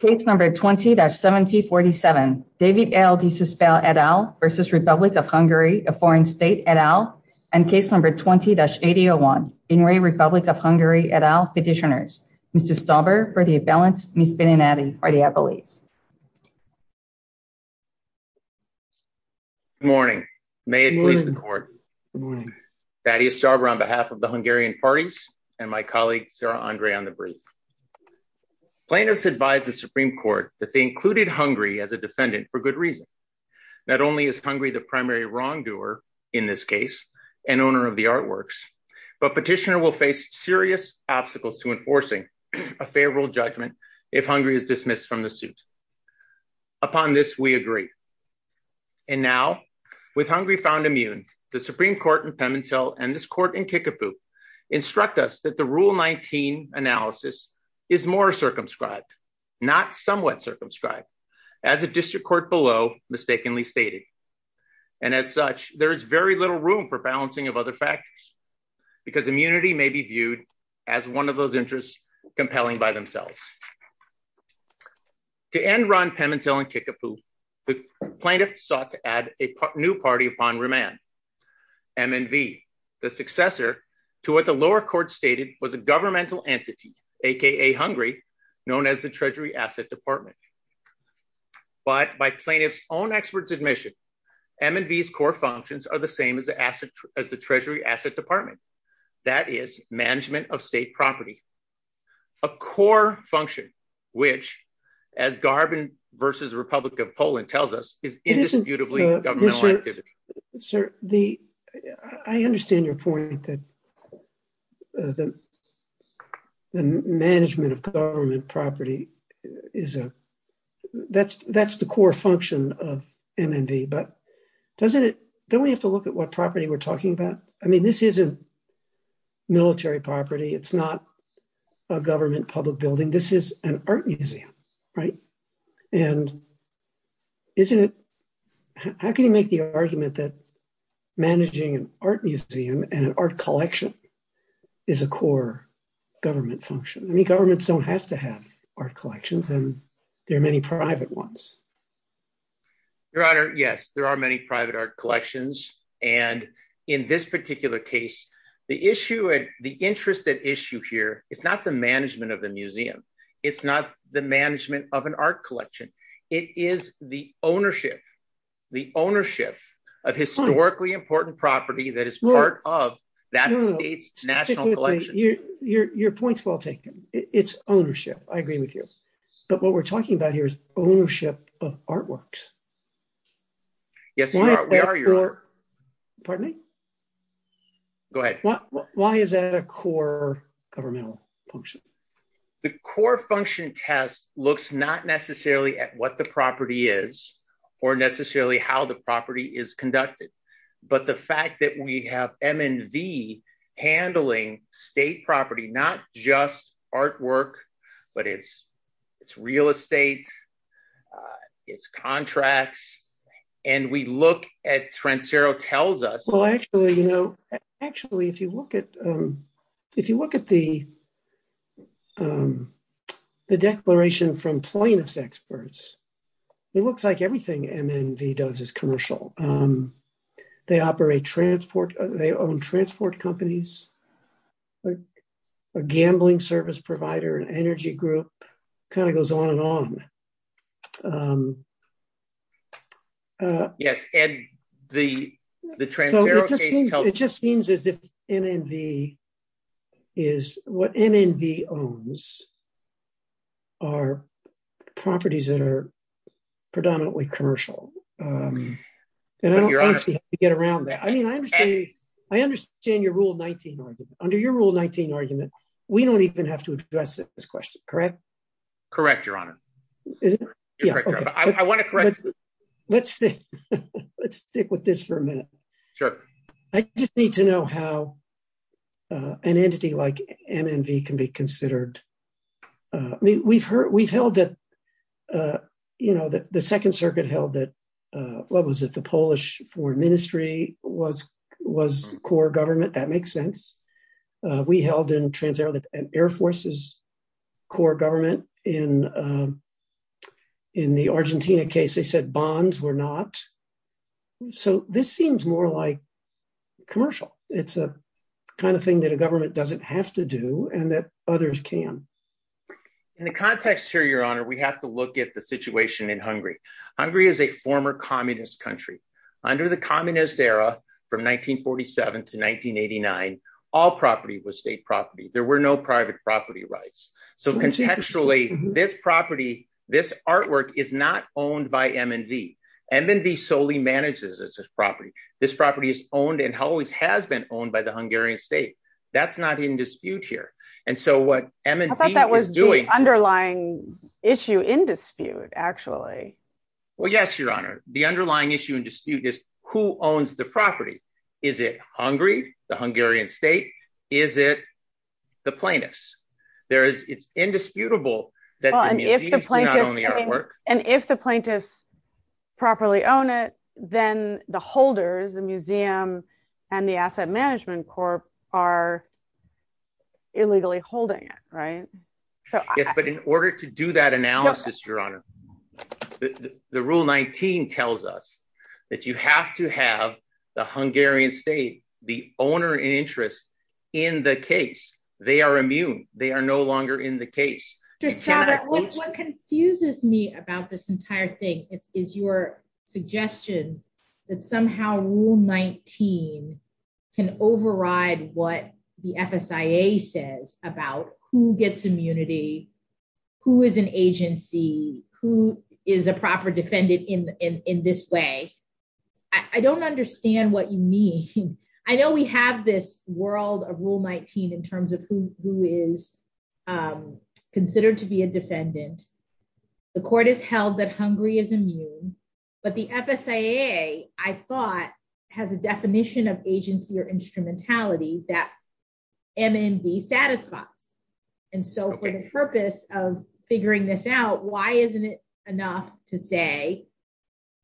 Case number 20-7047, David L. de Susper et al. versus Republic of Hungary, a foreign state et al. And case number 20-8001, Hungary, Republic of Hungary et al. petitioners. Mr. Stauber for the balance, Ms. Beninati for the appellees. Good morning. May it please the court. Good morning. Thaddeus Stauber on behalf of the Hungarian parties and my colleague Sarah Andre on the brief. Plaintiffs advise the Supreme Court that they included Hungary as a defendant for good reason. Not only is Hungary the primary wrongdoer in this case and owner of the artworks, but petitioner will face serious obstacles to enforcing a favorable judgment if Hungary is dismissed from the suit. Upon this, we agree. And now, with Hungary found immune, the Supreme Court in Pemintel and this court in Kickapoo instruct us that the Rule 19 analysis is more circumscribed, not somewhat circumscribed, as a district court below mistakenly stated. And as such, there is very little room for balancing of other factors, because immunity may be viewed as one of those interests compelling by themselves. To end Ron Pemintel in Kickapoo, the plaintiff sought to add a new party upon remand, MNV, the successor to what the lower court stated was a governmental entity, aka Hungary, known as the Treasury Asset Department. But by plaintiff's own expert's admission, MNV's core functions are the same as the Treasury Asset Department, that is, management of state property. A core function, which, as Garbin versus Republic of Poland tells us, is indisputably governmental activity. I understand your point that the management of government property, that's the core function of MNV, but don't we have to look at what property we're talking about? I mean, this isn't military property. It's not a government public building. This is an art museum, right? And how can you make the argument that managing an art museum and an art collection is a core government function? I mean, governments don't have to have art collections, and there are many private ones. Your Honor, yes, there are many private art collections. And in this particular case, the interest at issue here is not the management of the museum. It's not the management of an art collection. It is the ownership, the ownership of historically important property that is part of that state's national collection. Your point's well taken. It's ownership. I agree with you. But what we're talking about here is ownership of artworks. Yes, Your Honor. Pardon me? Go ahead. Why is that a core governmental function? The core function test looks not necessarily at what the property is or necessarily how the property is conducted. But the fact that we have M&V handling state property, not just artwork, but it's real estate, it's contracts. And we look at Trencero tells us. Well, actually, you know, actually, if you look at if you look at the declaration from plaintiffs' experts, it looks like everything M&V does is commercial. They operate transport. They own transport companies. A gambling service provider, an energy group kind of goes on and on. Yes. And the Trencero case tells us. It just seems as if M&V is what M&V owns are properties that are predominantly commercial. And I don't actually have to get around that. I mean, I understand. I understand your rule 19 under your rule 19 argument. We don't even have to address this question. Correct. Correct. Your Honor. I want to correct. Let's let's stick with this for a minute. Sure. I just need to know how an entity like M&V can be considered. We've heard we've held it. You know, the Second Circuit held that. What was it? The Polish foreign ministry was was core government. That makes sense. We held in Trencero that an air force's core government in in the Argentina case, they said bonds were not. So this seems more like commercial. It's a kind of thing that a government doesn't have to do and that others can. In the context here, Your Honor, we have to look at the situation in Hungary. Hungary is a former communist country under the communist era from 1947 to 1989. All property was state property. There were no private property rights. So potentially this property, this artwork is not owned by M&V. M&V solely manages this property. This property is owned and always has been owned by the Hungarian state. That's not in dispute here. And so what M&V is doing. I thought that was the underlying issue in dispute, actually. Well, yes, Your Honor. The underlying issue in dispute is who owns the property? Is it Hungary? The Hungarian state? Is it the plaintiffs? There is it's indisputable. And if the plaintiffs properly own it, then the holders, the museum and the asset management corp are illegally holding it. Right. But in order to do that analysis, Your Honor, the rule 19 tells us that you have to have the Hungarian state, the owner in interest in the case. They are immune. They are no longer in the case. What confuses me about this entire thing is your suggestion that somehow rule 19 can override what the FSIA says about who gets immunity, who is an agency, who is a proper defendant in this way. I don't understand what you mean. I know we have this world of rule 19 in terms of who is considered to be a defendant. The court has held that Hungary is immune. But the FSIA, I thought, has a definition of agency or instrumentality that M&V satisfies. And so for the purpose of figuring this out, why isn't it enough to say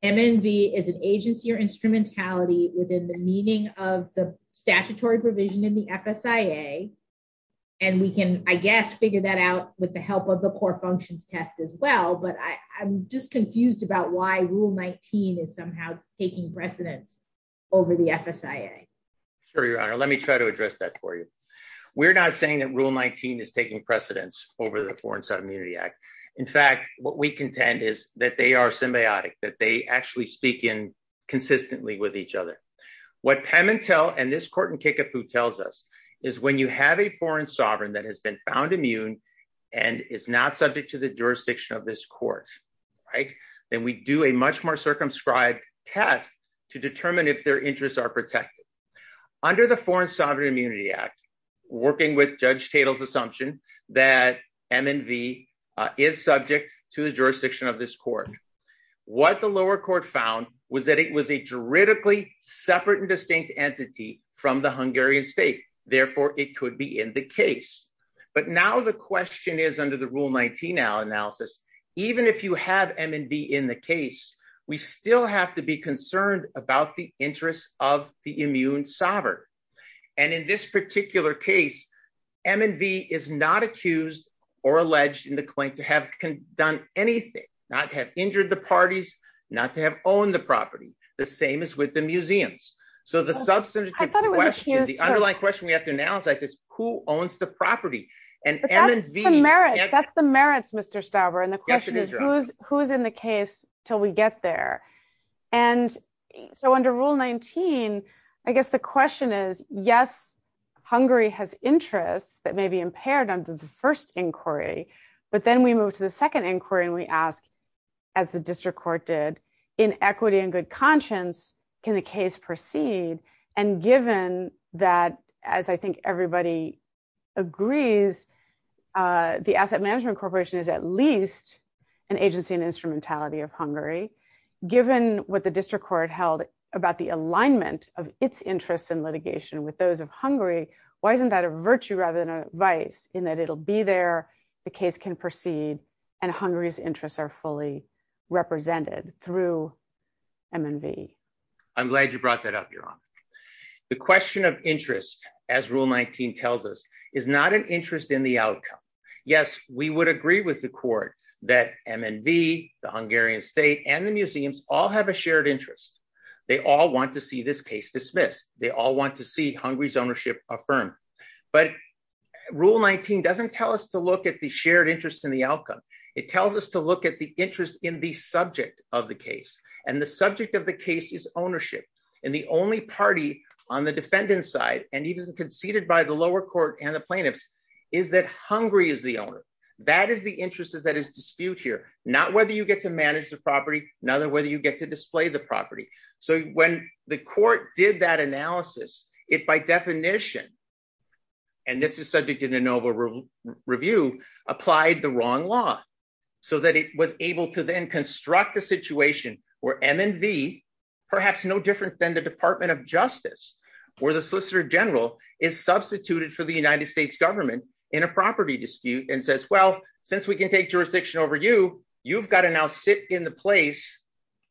M&V is an agency or instrumentality within the meaning of the statutory provision in the FSIA? And we can, I guess, figure that out with the help of the core functions test as well. But I'm just confused about why rule 19 is somehow taking precedence over the FSIA. Sure, Your Honor, let me try to address that for you. We're not saying that rule 19 is taking precedence over the Foreign Sovereign Immunity Act. In fact, what we contend is that they are symbiotic, that they actually speak in consistently with each other. What Pemintel and this court in Kickapoo tells us is when you have a foreign sovereign that has been found immune and is not subject to the jurisdiction of this court, right, then we do a much more circumscribed test to determine if their interests are protected. Under the Foreign Sovereign Immunity Act, working with Judge Tatel's assumption that M&V is subject to the jurisdiction of this court, what the lower court found was that it was a juridically separate and distinct entity from the Hungarian state. Therefore, it could be in the case. But now the question is under the rule 19 analysis, even if you have M&V in the case, we still have to be concerned about the interests of the immune sovereign. And in this particular case, M&V is not accused or alleged in the claim to have done anything, not to have injured the parties, not to have owned the property, the same as with the museums. So the substantive question, the underlying question we have to analyze is who owns the property? And M&V- That's the merits, Mr. Stauber. And the question is who's in the case till we get there? And so under rule 19, I guess the question is, yes, Hungary has interests that may be impaired under the first inquiry, but then we move to the second inquiry and we ask, as the district court did, in equity and good conscience, can the case proceed? And given that, as I think everybody agrees, the Asset Management Corporation is at least an agency and instrumentality of Hungary. Given what the district court held about the alignment of its interests in litigation with those of Hungary, why isn't that a virtue rather than a vice in that it'll be there, the case can proceed, and Hungary's interests are fully represented through M&V? I'm glad you brought that up, Your Honor. The question of interest, as rule 19 tells us, is not an interest in the outcome. Yes, we would agree with the court that M&V, the Hungarian state, and the museums all have a shared interest. They all want to see this case dismissed. They all want to see Hungary's ownership affirmed. But rule 19 doesn't tell us to look at the shared interest in the outcome. It tells us to look at the interest in the subject of the case. And the subject of the case is ownership. And the only party on the defendant's side, and even conceded by the lower court and the plaintiffs, is that Hungary is the owner. That is the interest that is disputed here. Not whether you get to manage the property, not whether you get to display the property. So when the court did that analysis, it, by definition, and this is subject to de novo review, applied the wrong law so that it was able to then construct a situation where M&V, perhaps no different than the Department of Justice, or the Solicitor General, is substituted for the United States government in a property dispute and says, well, since we can take jurisdiction over you, you've got to now sit in the place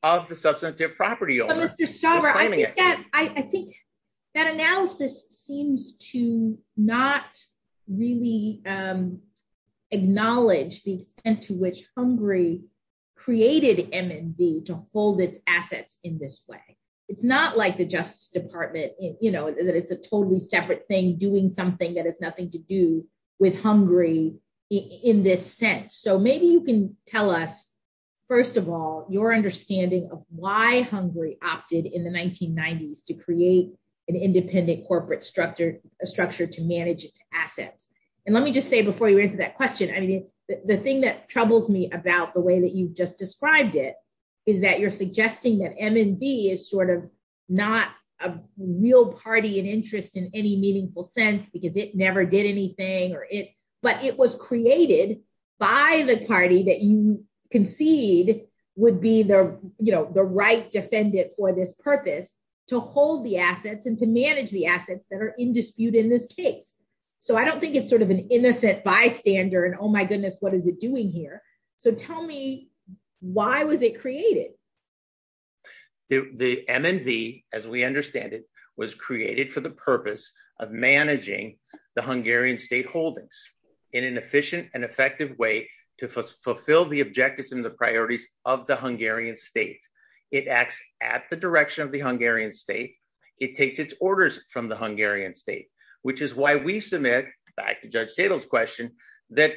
of the substantive property owner. I think that analysis seems to not really acknowledge the extent to which Hungary created M&V to hold its assets in this way. It's not like the Justice Department, you know, that it's a totally separate thing doing something that has nothing to do with Hungary in this sense. So maybe you can tell us, first of all, your understanding of why Hungary opted in the 1990s to create an independent corporate structure to manage its assets. And let me just say before you answer that question, I mean, the thing that troubles me about the way that you've just described it is that you're suggesting that M&V is sort of not a real party and interest in any meaningful sense because it never did anything. But it was created by the party that you concede would be the right defendant for this purpose to hold the assets and to manage the assets that are in dispute in this case. So I don't think it's sort of an innocent bystander and oh my goodness, what is it doing here? So tell me, why was it created? The M&V, as we understand it, was created for the purpose of managing the Hungarian state holdings in an efficient and effective way to fulfill the objectives and the priorities of the Hungarian state. It acts at the direction of the Hungarian state. It takes its orders from the Hungarian state, which is why we submit, back to Judge Tatel's question, that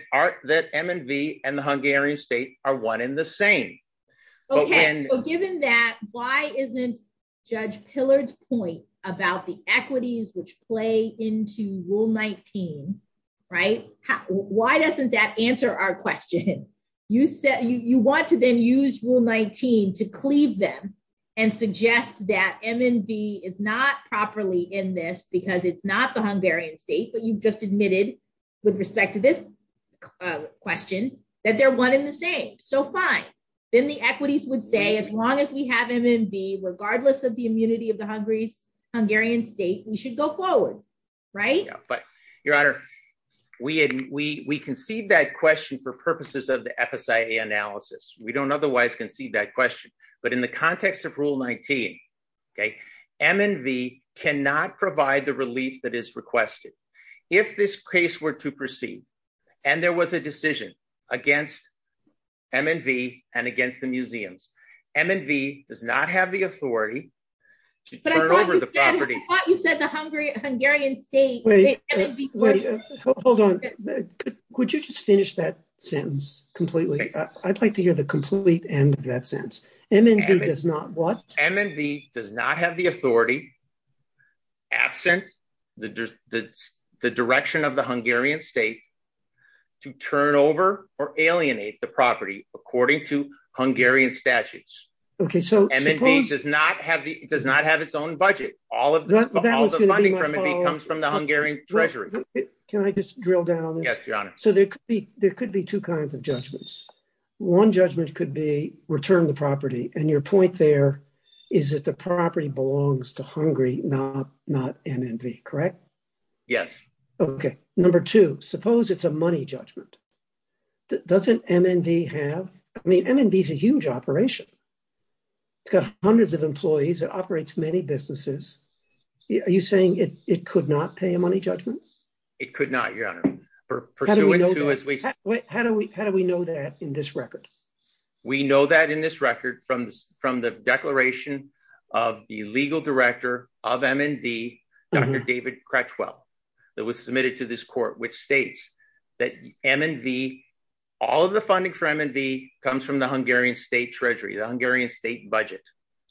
M&V and the Hungarian state are one in the same. Okay, so given that, why isn't Judge Pillard's point about the equities which play into Rule 19, right? Why doesn't that answer our question? You want to then use Rule 19 to cleave them and suggest that M&V is not properly in this because it's not the Hungarian state, but you've just admitted, with respect to this question, that they're one in the same. So fine, then the equities would say as long as we have M&V, regardless of the immunity of the Hungarian state, we should go forward, right? Your Honor, we concede that question for purposes of the FSIA analysis. We don't otherwise concede that question. But in the context of Rule 19, M&V cannot provide the relief that is requested. If this case were to proceed and there was a decision against M&V and against the museums, M&V does not have the authority to turn over the property. Wait, hold on. Could you just finish that sentence completely? I'd like to hear the complete end of that sentence. M&V does not what? M&V does not have the authority, absent the direction of the Hungarian state, to turn over or alienate the property according to Hungarian statutes. M&V does not have its own budget. All of the funding for M&V comes from the Hungarian treasury. Can I just drill down on this? Yes, Your Honor. So there could be two kinds of judgments. One judgment could be return the property. And your point there is that the property belongs to Hungary, not M&V, correct? Yes. Okay. Number two, suppose it's a money judgment. Doesn't M&V have? I mean, M&V is a huge operation. It's got hundreds of employees. It operates many businesses. Are you saying it could not pay a money judgment? It could not, Your Honor. How do we know that in this record? We know that in this record from the declaration of the legal director of M&V, Dr. David Cratchwell, that was submitted to this court, which states that M&V, all of the funding for M&V comes from the Hungarian state treasury, the Hungarian state budget.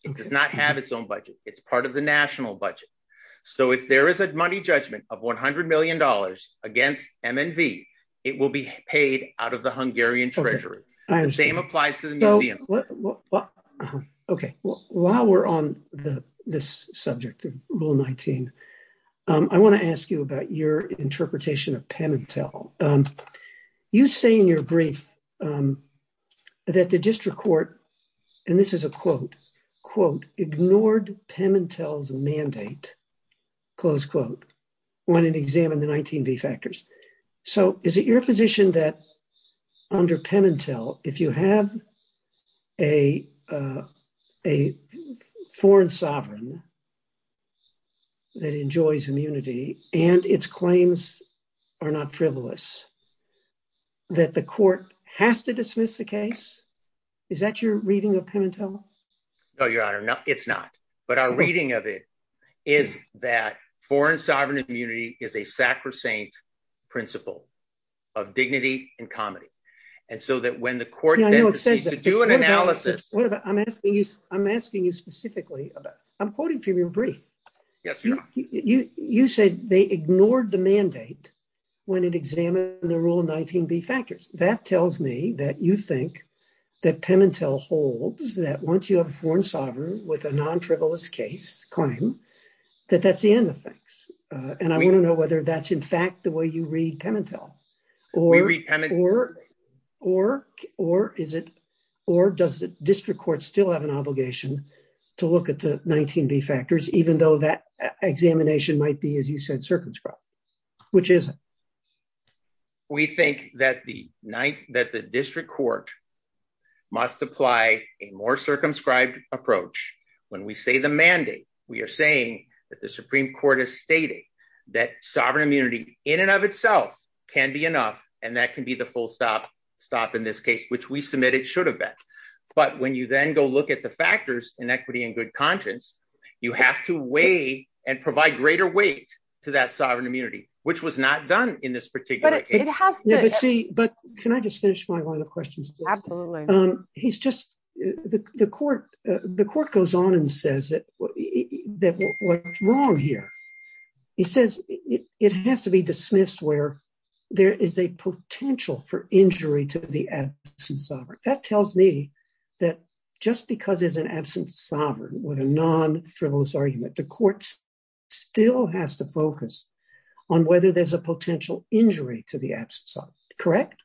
It does not have its own budget. It's part of the national budget. So if there is a money judgment of $100 million against M&V, it will be paid out of the Hungarian treasury. I understand. The same applies to the museums. Okay. While we're on this subject of Rule 19, I want to ask you about your interpretation of Pementel. You say in your brief that the district court, and this is a quote, quote, ignored Pementel's mandate, close quote, when it examined the 19b factors. So is it your position that under Pementel, if you have a foreign sovereign that enjoys immunity and its claims are not frivolous, that the court has to dismiss the case? Is that your reading of Pementel? No, Your Honor, it's not. But our reading of it is that foreign sovereign immunity is a sacrosanct principle of dignity and comedy. And so that when the court says to do an analysis... I'm asking you specifically about, I'm quoting from your brief. Yes, Your Honor. You said they ignored the mandate when it examined the Rule 19b factors. That tells me that you think that Pementel holds that once you have a foreign sovereign with a non-frivolous case claim, that that's the end of things. And I want to know whether that's in fact the way you read Pementel. Or does the district court still have an obligation to look at the 19b factors, even though that examination might be, as you said, circumscribed? Which is it? We think that the district court must apply a more circumscribed approach. When we say the mandate, we are saying that the Supreme Court has stated that sovereign immunity in and of itself can be enough. And that can be the full stop in this case, which we submit it should have been. But when you then go look at the factors, inequity and good conscience, you have to weigh and provide greater weight to that sovereign immunity, which was not done in this particular case. But can I just finish my line of questions? Absolutely. He's just the court. The court goes on and says that what's wrong here? He says it has to be dismissed where there is a potential for injury to the absence of sovereign. That tells me that just because there's an absence of sovereign with a non-frivolous argument, the courts still has to focus on whether there's a potential injury to the absence of sovereign. Correct?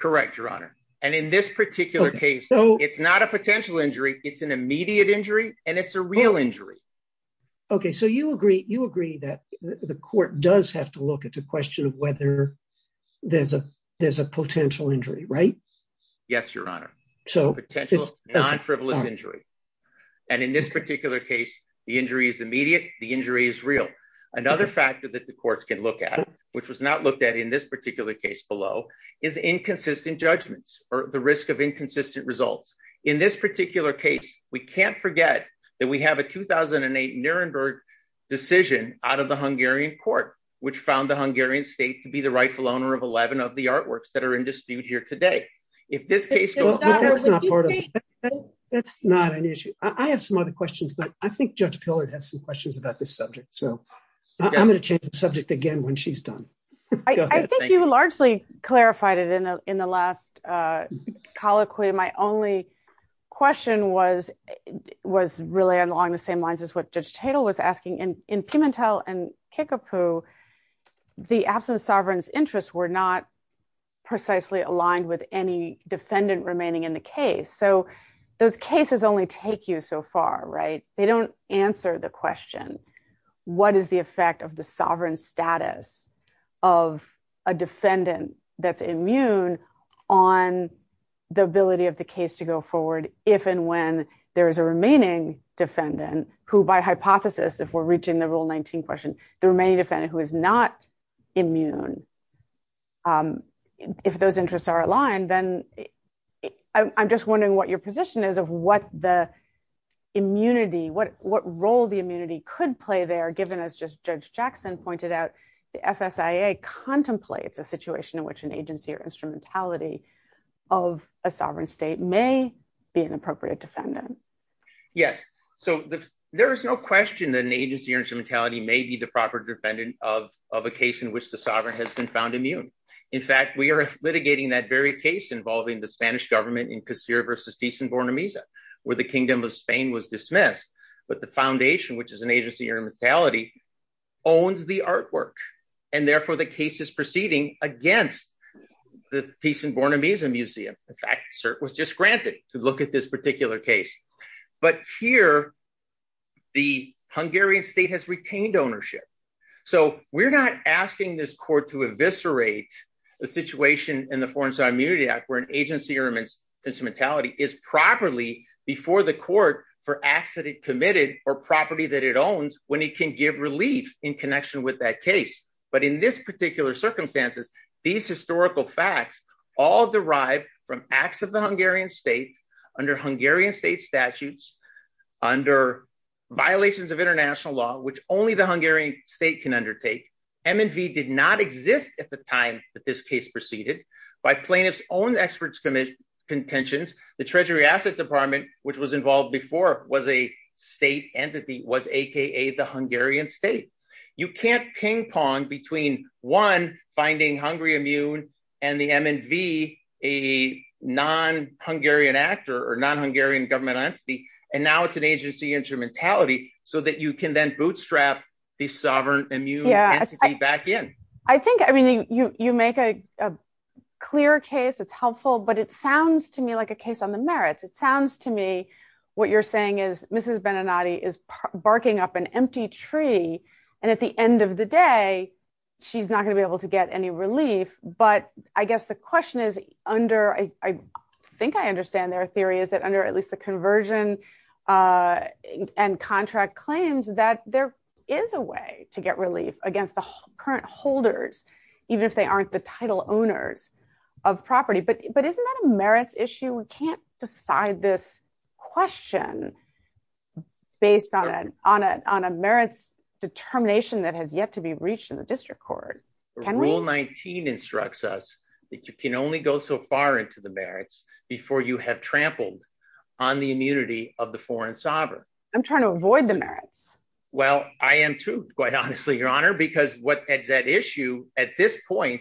Correct, Your Honor. And in this particular case, it's not a potential injury. It's an immediate injury and it's a real injury. Okay. So you agree that the court does have to look at the question of whether there's a potential injury, right? Yes, Your Honor. So it's a non-frivolous injury. And in this particular case, the injury is immediate. The injury is real. Another factor that the courts can look at, which was not looked at in this particular case below, is inconsistent judgments or the risk of inconsistent results. In this particular case, we can't forget that we have a 2008 Nuremberg decision out of the Hungarian court, which found the Hungarian state to be the rightful owner of 11 of the artworks that are in dispute here today. But that's not part of it. That's not an issue. I have some other questions, but I think Judge Pillard has some questions about this subject. So I'm going to change the subject again when she's done. I think you largely clarified it in the last colloquy. My only question was really along the same lines as what Judge Tatel was asking. In Pimentel and Kickapoo, the absence of sovereign's interests were not precisely aligned with any defendant remaining in the case. So those cases only take you so far, right? They don't answer the question, what is the effect of the sovereign status of a defendant that's immune on the ability of the case to go forward if and when there is a remaining defendant who, by hypothesis, if we're reaching the Rule 19 question, the remaining defendant who is not immune. If those interests are aligned, then I'm just wondering what your position is of what the immunity, what role the immunity could play there, given, as just Judge Jackson pointed out, the FSIA contemplates a situation in which an agency or instrumentality of a sovereign state may be an appropriate defendant. Yes, so there is no question that an agency or instrumentality may be the proper defendant of a case in which the sovereign has been found immune. In fact, we are litigating that very case involving the Spanish government in Casilla versus Tiza and Bornemisa, where the Kingdom of Spain was dismissed. But the foundation, which is an agency or instrumentality, owns the artwork, and therefore the case is proceeding against the Tiza and Bornemisa Museum. In fact, cert was just granted to look at this particular case. But here, the Hungarian state has retained ownership. So we're not asking this court to eviscerate the situation in the Foreign Sovereign Immunity Act where an agency or instrumentality is properly before the court for acts that it committed or property that it owns when it can give relief in connection with that case. But in this particular circumstances, these historical facts all derive from acts of the Hungarian state under Hungarian state statutes, under violations of international law, which only the Hungarian state can undertake. MNV did not exist at the time that this case proceeded. By plaintiffs' own experts' contentions, the Treasury Asset Department, which was involved before, was a state entity, was a.k.a. the Hungarian state. You can't ping pong between, one, finding Hungary immune and the MNV, a non-Hungarian actor or non-Hungarian government entity, and now it's an agency instrumentality so that you can then bootstrap the sovereign immune entity back in. I think, I mean, you make a clear case, it's helpful, but it sounds to me like a case on the merits. It sounds to me what you're saying is Mrs. Beninati is barking up an empty tree, and at the end of the day, she's not going to be able to get any relief. But I guess the question is under, I think I understand their theory, is that under at least the conversion and contract claims that there is a way to get relief against the current holders, even if they aren't the title owners of property. But isn't that a merits issue? We can't decide this question based on a merits determination that has yet to be reached in the district court. Rule 19 instructs us that you can only go so far into the merits before you have trampled on the immunity of the foreign sovereign. I'm trying to avoid the merits. Well, I am too, quite honestly, Your Honor, because what is at issue at this point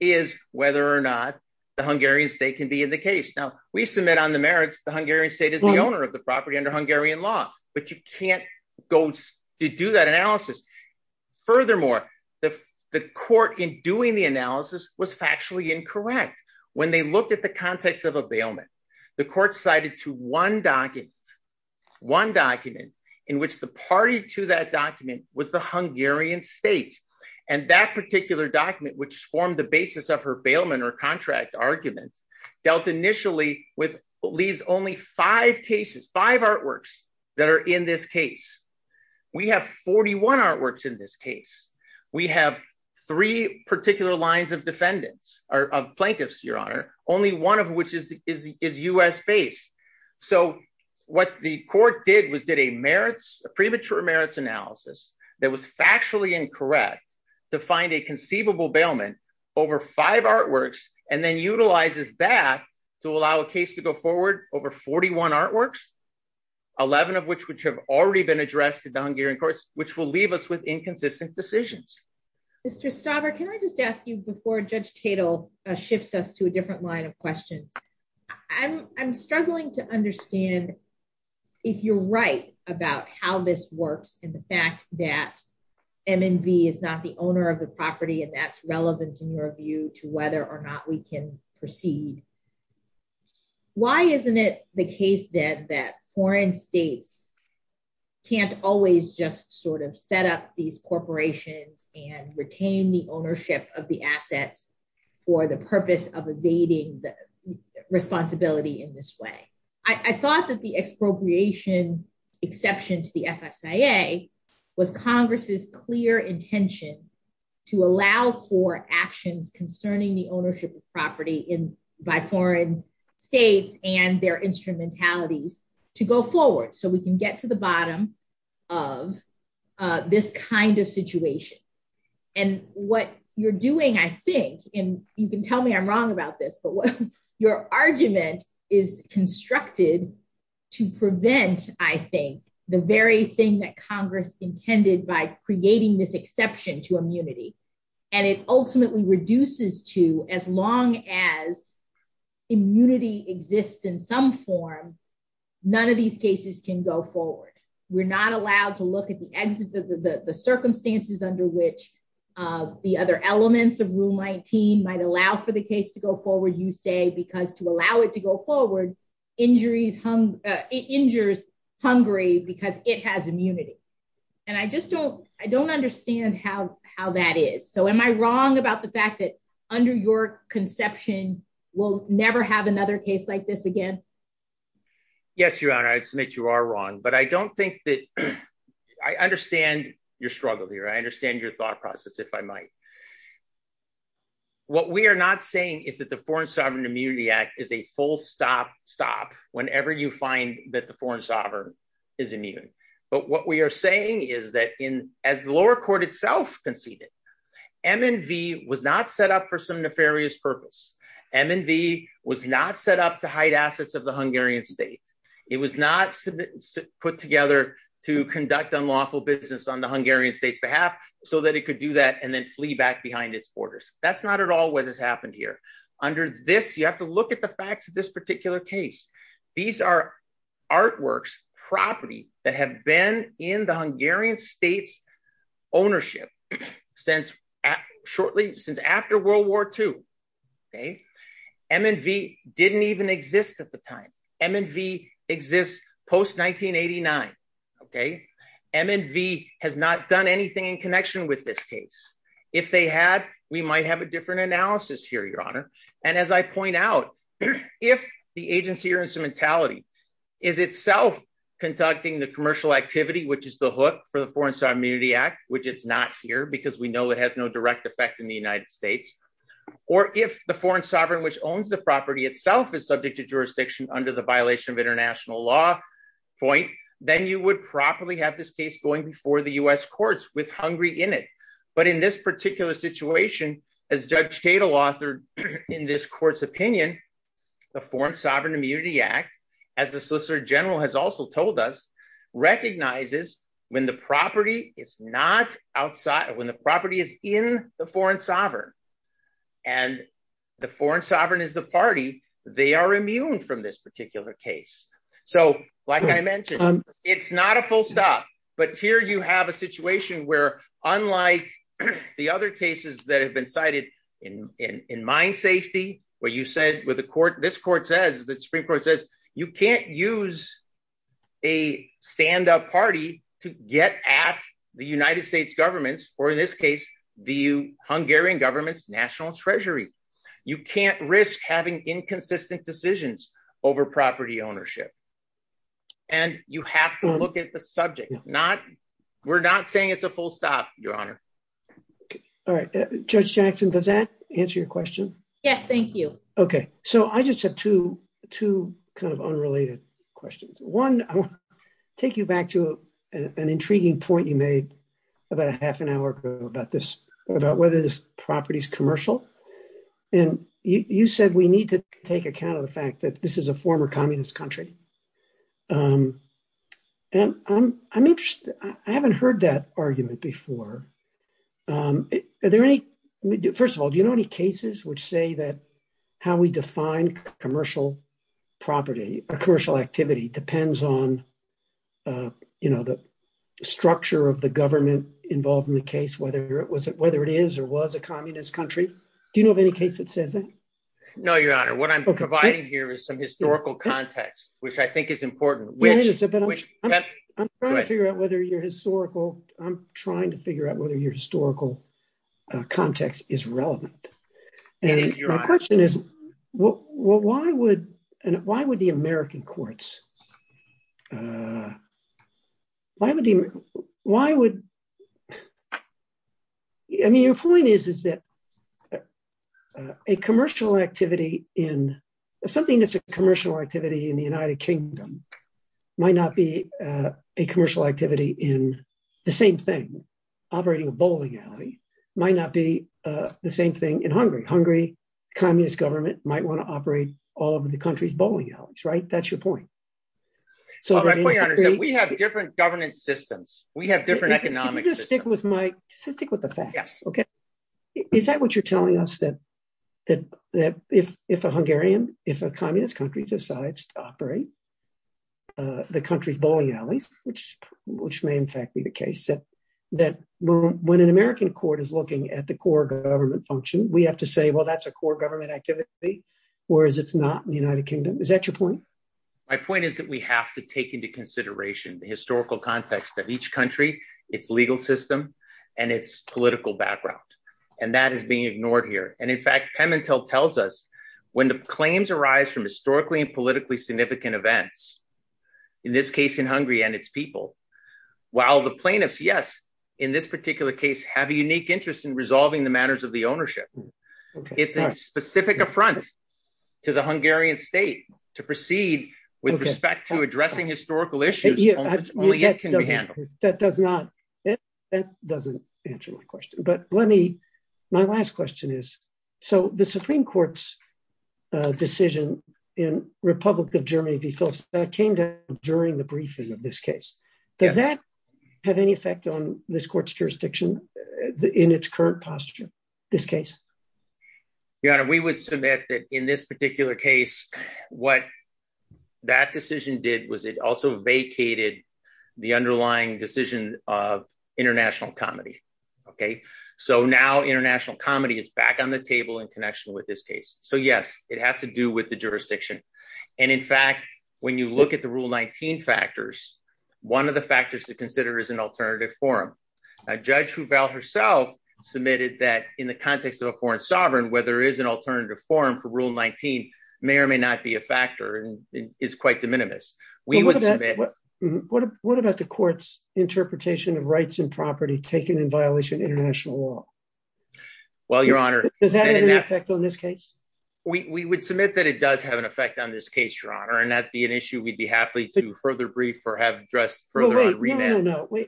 is whether or not the Hungarian state can be in the case. Now, we submit on the merits the Hungarian state is the owner of the property under Hungarian law, but you can't go to do that analysis. Furthermore, the court in doing the analysis was factually incorrect. When they looked at the context of a bailment, the court cited to one document, one document, in which the party to that document was the Hungarian state. And that particular document, which formed the basis of her bailment or contract arguments, dealt initially with what leaves only five cases, five artworks that are in this case. We have 41 artworks in this case. We have three particular lines of defendants or plaintiffs, Your Honor, only one of which is U.S. based. So what the court did was did a merits, a premature merits analysis that was factually incorrect to find a conceivable bailment over five artworks and then utilizes that to allow a case to go forward over 41 artworks, 11 of which which have already been addressed in the Hungarian courts, which will leave us with inconsistent decisions. Mr. Stauber, can I just ask you before Judge Tatel shifts us to a different line of questions. I'm struggling to understand if you're right about how this works and the fact that MNB is not the owner of the property and that's relevant in your view to whether or not we can proceed. Why isn't it the case that that foreign states can't always just sort of set up these corporations and retain the ownership of the assets for the purpose of evading the responsibility in this way? I thought that the expropriation exception to the FSIA was Congress's clear intention to allow for actions concerning the ownership of property by foreign states and their instrumentalities to go forward so we can get to the bottom of this kind of situation. And what you're doing, I think, and you can tell me I'm wrong about this, but what your argument is constructed to prevent, I think, the very thing that Congress intended by creating this exception to immunity, and it ultimately reduces to as long as there's a case in which the other elements of Rule 19 might allow for the case to go forward, you say, because to allow it to go forward, it injures Hungary because it has immunity. And I just don't, I don't understand how that is. So am I wrong about the fact that under your conception, we'll never have another case like this again? Yes, Your Honor, I submit you are wrong, but I don't think that I understand your struggle here. I understand your thought process, if I might. What we are not saying is that the Foreign Sovereign Immunity Act is a full stop stop whenever you find that the foreign sovereign is immune. But what we are saying is that as the lower court itself conceded, MNV was not set up for some nefarious purpose. MNV was not set up to hide assets of the Hungarian state. It was not put together to conduct unlawful business on the Hungarian state's behalf, so that it could do that and then flee back behind its borders. That's not at all what has happened here. Under this, you have to look at the facts of this particular case. These are artworks, property that have been in the Hungarian state's ownership since shortly, since after World War II. MNV didn't even exist at the time. MNV exists post 1989. MNV has not done anything in connection with this case. If they had, we might have a different analysis here, Your Honor. And as I point out, if the agency or instrumentality is itself conducting the commercial activity, which is the hook for the Foreign Sovereign Immunity Act, which it's not here because we know it has no direct effect in the United States, or if the foreign sovereign which owns the property itself is subject to jurisdiction under the violation of international law point, then you would properly have this case going before the U.S. courts with Hungary in it. But in this particular situation, as Judge Cato authored in this court's opinion, the Foreign Sovereign Immunity Act, as the Solicitor General has also told us, recognizes when the property is in the foreign sovereign, and the foreign sovereign is the party, they are immune from this particular case. So, like I mentioned, it's not a full stop. But here you have a situation where, unlike the other cases that have been cited in mine safety, where you said with the court, this court says, the Supreme Court says, you can't use a stand up party to get at the United States governments, or in this case, the Hungarian government's national treasury. You can't risk having inconsistent decisions over property ownership. And you have to look at the subject. We're not saying it's a full stop, Your Honor. All right, Judge Jackson, does that answer your question? Yes, thank you. Okay, so I just have two, two kind of unrelated questions. One, I'll take you back to an intriguing point you made about a half an hour ago about this, about whether this property is commercial. And you said we need to take account of the fact that this is a former communist country. And I'm interested, I haven't heard that argument before. First of all, do you know any cases which say that how we define commercial property or commercial activity depends on, you know, the structure of the government involved in the case, whether it is or was a communist country? Do you know of any case that says that? No, Your Honor. What I'm providing here is some historical context, which I think is important. I'm trying to figure out whether your historical, I'm trying to figure out whether your historical context is relevant. And my question is, why would, why would the American courts, why would the, why would, I mean, your point is, is that a commercial activity in, something that's a commercial activity in the United Kingdom might not be a commercial activity in the same thing. Operating a bowling alley might not be the same thing in Hungary. Hungary, communist government might want to operate all over the country's bowling alleys, right? That's your point. We have different governance systems. We have different economic systems. Yes. Okay. Is that what you're telling us, that if a Hungarian, if a communist country decides to operate the country's bowling alleys, which may in fact be the case, that when an American court is looking at the core government function, we have to say, well, that's a core government activity, whereas it's not in the United Kingdom. Is that your point? My point is that we have to take into consideration the historical context of each country, its legal system, and its political background. And that is being ignored here. And in fact, Pemintel tells us when the claims arise from historically and politically significant events, in this case in Hungary and its people, while the plaintiffs, yes, in this particular case, have a unique interest in resolving the matters of the ownership. It's a specific affront to the Hungarian state to proceed with respect to addressing historical issues only it can handle. That doesn't answer my question. But let me, my last question is, so the Supreme Court's decision in Republic of Germany v. Philips that came down during the briefing of this case, does that have any effect on this court's jurisdiction in its current posture, this case? Your Honor, we would submit that in this particular case, what that decision did was it also vacated the underlying decision of international comedy. Okay, so now international comedy is back on the table in connection with this case. So yes, it has to do with the jurisdiction. And in fact, when you look at the Rule 19 factors, one of the factors to consider is an alternative forum. Judge Ruvel herself submitted that in the context of a foreign sovereign where there is an alternative forum for Rule 19 may or may not be a factor and is quite de minimis. What about the court's interpretation of rights and property taken in violation of international law? Well, Your Honor. Does that have an effect on this case? We would submit that it does have an effect on this case, Your Honor, and that'd be an issue we'd be happy to further brief or have addressed further on remand. No, no, no.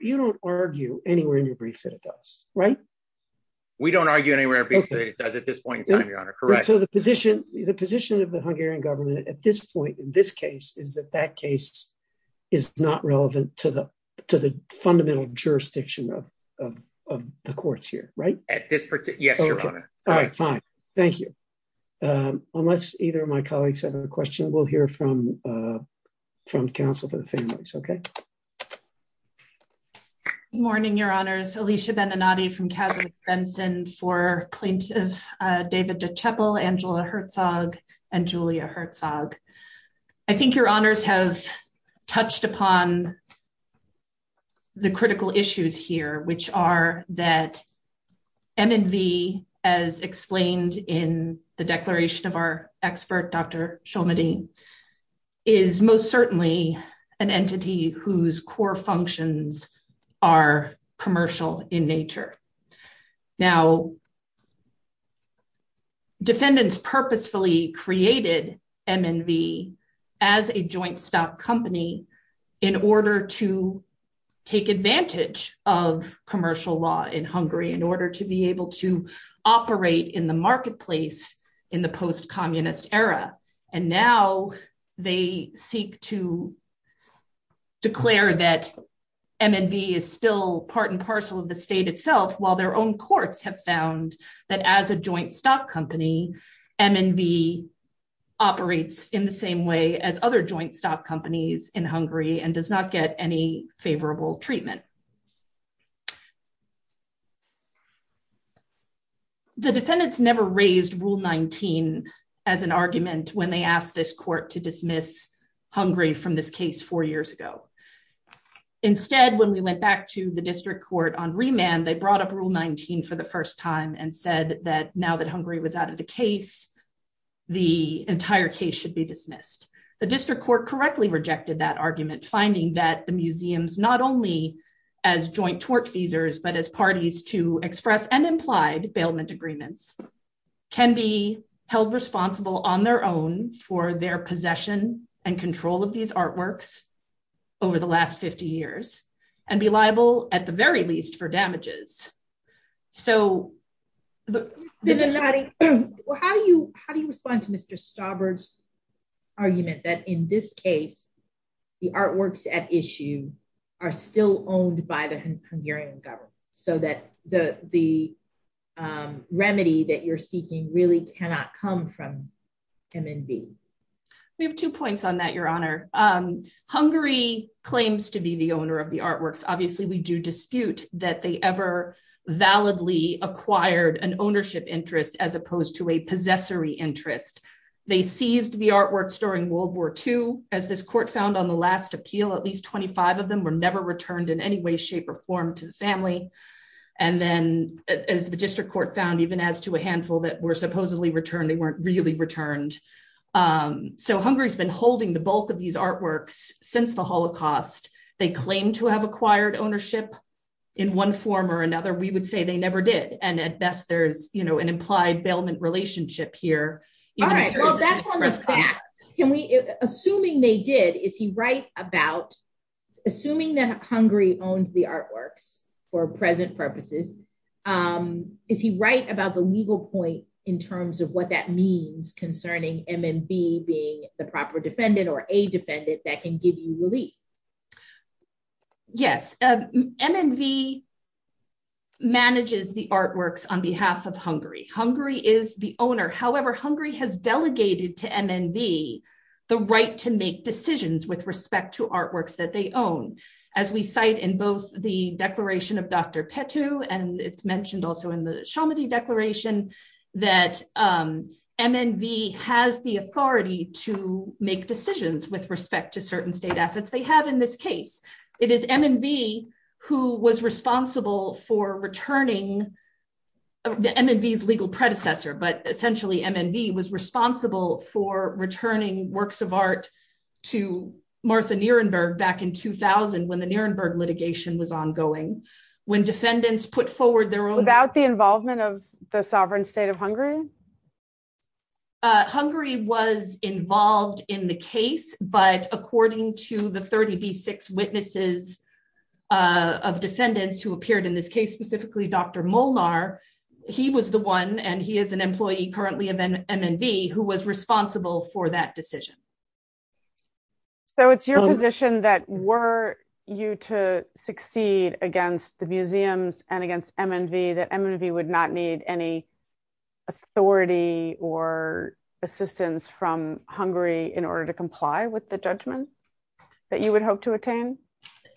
You don't argue anywhere in your brief that it does, right? We don't argue anywhere in our brief that it does at this point in time, Your Honor. Correct. So the position of the Hungarian government at this point in this case is that that case is not relevant to the fundamental jurisdiction of the courts here, right? At this particular, yes, Your Honor. All right, fine. Thank you. Unless either of my colleagues have a question, we'll hear from from counsel for the families. Okay. Morning, Your Honors. Alicia Beninati from Casa Benson for plaintiff. David DeChapel, Angela Herzog and Julia Herzog. I think Your Honors have touched upon the critical issues here, which are that M&V, as explained in the declaration of our expert, Dr. Shulmani, is most certainly an entity whose core functions are commercial in nature. Now, defendants purposefully created M&V as a joint stock company in order to take advantage of commercial law in Hungary, in order to be able to operate in the marketplace in the post-communist era. And now they seek to declare that M&V is still part and parcel of the state itself, while their own courts have found that as a joint stock company, M&V operates in the same way as other joint stock companies in Hungary and does not get any favorable treatment. The defendants never raised Rule 19 as an argument when they asked this court to dismiss Hungary from this case four years ago. Instead, when we went back to the district court on remand, they brought up Rule 19 for the first time and said that now that Hungary was out of the case, the entire case should be dismissed. The district court correctly rejected that argument, finding that the museums, not only as joint tortfeasors, but as parties to express and implied bailment agreements, can be held responsible on their own for their possession and control of these artworks over the last 50 years and be liable, at the very least, for damages. How do you respond to Mr. Stauber's argument that in this case, the artworks at issue are still owned by the Hungarian government, so that the remedy that you're seeking really cannot come from M&V? We have two points on that, Your Honor. Hungary claims to be the owner of the artworks. Obviously, we do dispute that they ever validly acquired an ownership interest as opposed to a possessory interest. They seized the artworks during World War II. As this court found on the last appeal, at least 25 of them were never returned in any way, shape, or form to the family. As the district court found, even as to a handful that were supposedly returned, they weren't really returned. Hungary's been holding the bulk of these artworks since the Holocaust. They claim to have acquired ownership in one form or another. We would say they never did. At best, there's an implied bailment relationship here. Assuming that Hungary owns the artworks for present purposes, is he right about the legal point in terms of what that means concerning M&V being the proper defendant or a defendant that can give you relief? Yes. M&V manages the artworks on behalf of Hungary. Hungary is the owner. However, Hungary has delegated to M&V the right to make decisions with respect to artworks that they own. As we cite in both the Declaration of Dr. Petou and it's mentioned also in the Chalmedy Declaration, that M&V has the authority to make decisions with respect to certain state assets they have in this case. It is M&V who was responsible for returning, M&V's legal predecessor, but essentially M&V was responsible for returning works of art to Martha Nirenberg back in 2000 when the Nirenberg litigation was ongoing. Without the involvement of the sovereign state of Hungary? Hungary was involved in the case, but according to the 30B6 witnesses of defendants who appeared in this case, specifically Dr. Molnar, he was the one and he is an employee currently of M&V who was responsible for that decision. So it's your position that were you to succeed against the museums and against M&V that M&V would not need any authority or assistance from Hungary in order to comply with the judgment that you would hope to attain?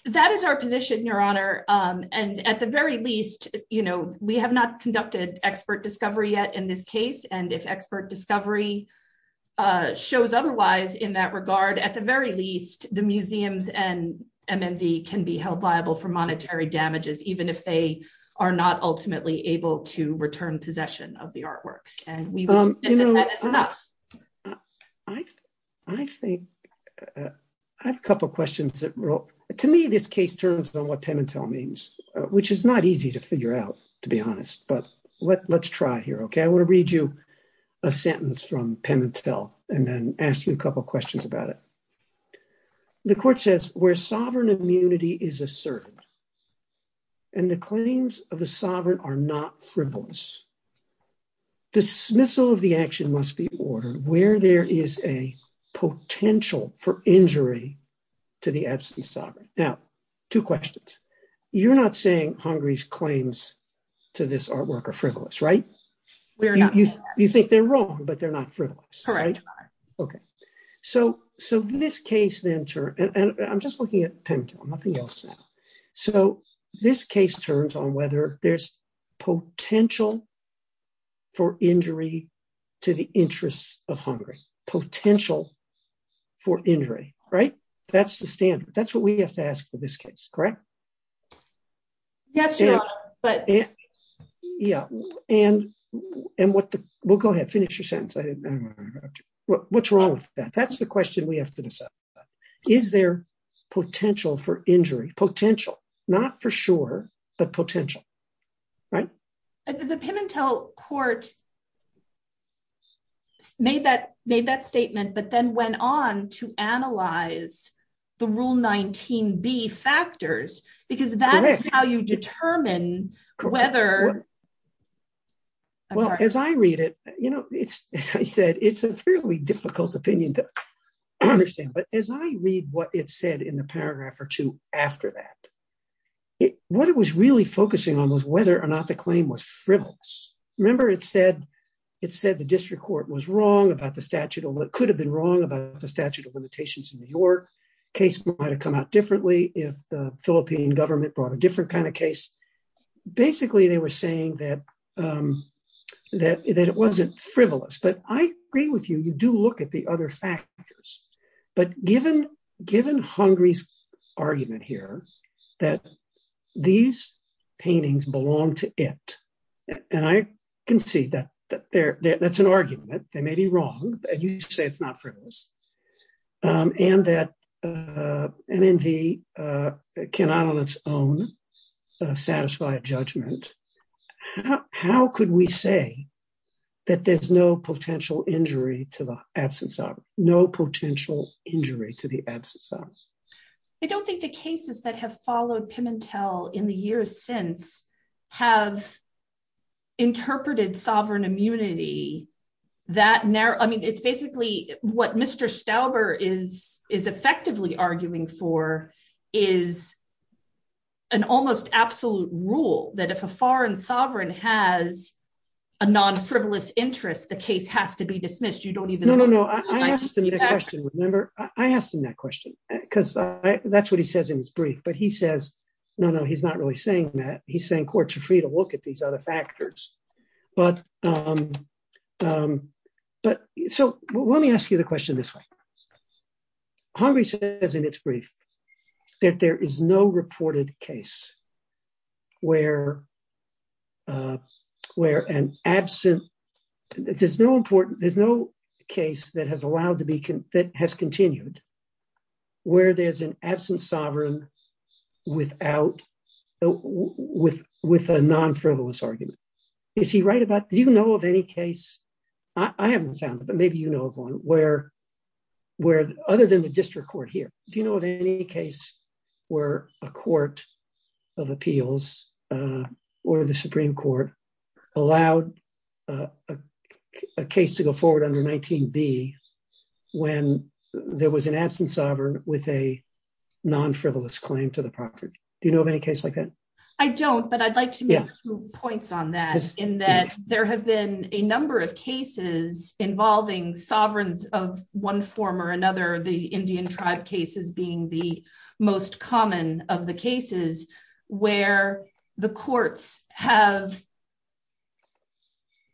That is our position, Your Honor. And at the very least, you know, we have not conducted expert discovery yet in this case, and if expert discovery shows otherwise in that regard, at the very least, the museums and M&V can be held liable for monetary damages, even if they are not ultimately able to return possession of the artworks. I think I have a couple of questions. To me, this case turns on what Pemintel means, which is not easy to figure out, to be honest, but let's try here. Okay, I want to read you a sentence from Pemintel and then ask you a couple of questions about it. The court says, where sovereign immunity is asserted, and the claims of the sovereign are not frivolous, dismissal of the action must be ordered where there is a potential for injury to the absent sovereign. Now, two questions. You're not saying Hungary's claims to this artwork are frivolous, right? We are not. You think they're wrong, but they're not frivolous, right? Correct. Okay, so this case then turns, and I'm just looking at Pemintel, nothing else now. So, this case turns on whether there's potential for injury to the interests of Hungary. Potential for injury, right? That's the standard. That's what we have to ask for this case, correct? Yes, but... We'll go ahead, finish your sentence. What's wrong with that? That's the question we have to decide. Is there potential for injury? Potential, not for sure, but potential, right? The Pemintel court made that statement, but then went on to analyze the Rule 19b factors, because that is how you determine whether... It's a fairly difficult opinion to understand, but as I read what it said in the paragraph or two after that, what it was really focusing on was whether or not the claim was frivolous. Remember, it said the district court was wrong about the statute, or it could have been wrong about the statute of limitations in New York. Case might have come out differently if the Philippine government brought a different kind of case. Basically, they were saying that it wasn't frivolous, but I agree with you, you do look at the other factors, but given Hungary's argument here that these paintings belong to it, and I can see that that's an argument, they may be wrong, and you say it's not frivolous, and that MNV cannot on its own satisfy a judgment. How could we say that there's no potential injury to the absence of, no potential injury to the absence of? I don't think the cases that have followed Pimentel in the years since have interpreted sovereign immunity that narrow. I mean, it's basically what Mr. Stauber is effectively arguing for is an almost absolute rule that if a foreign sovereign has a non-frivolous interest, the case has to be dismissed. No, no, no, I asked him that question, remember, I asked him that question, because that's what he says in his brief, but he says, no, no, he's not really saying that, he's saying courts are free to look at these other factors. But, so let me ask you the question this way. Hungary says in its brief that there is no reported case where an absent, there's no important, there's no case that has allowed to be, that has continued, where there's an absent sovereign without, with a non-frivolous argument. Is he right about, do you know of any case, I haven't found it, but maybe you know of one, where other than the district court here, do you know of any case where a court of appeals or the Supreme Court allowed a case to go forward under 19b when there was an absent sovereign with a non-frivolous claim to the property? Do you know of any case like that? I don't, but I'd like to make a few points on that, in that there have been a number of cases involving sovereigns of one form or another, the Indian tribe cases being the most common of the cases where the courts have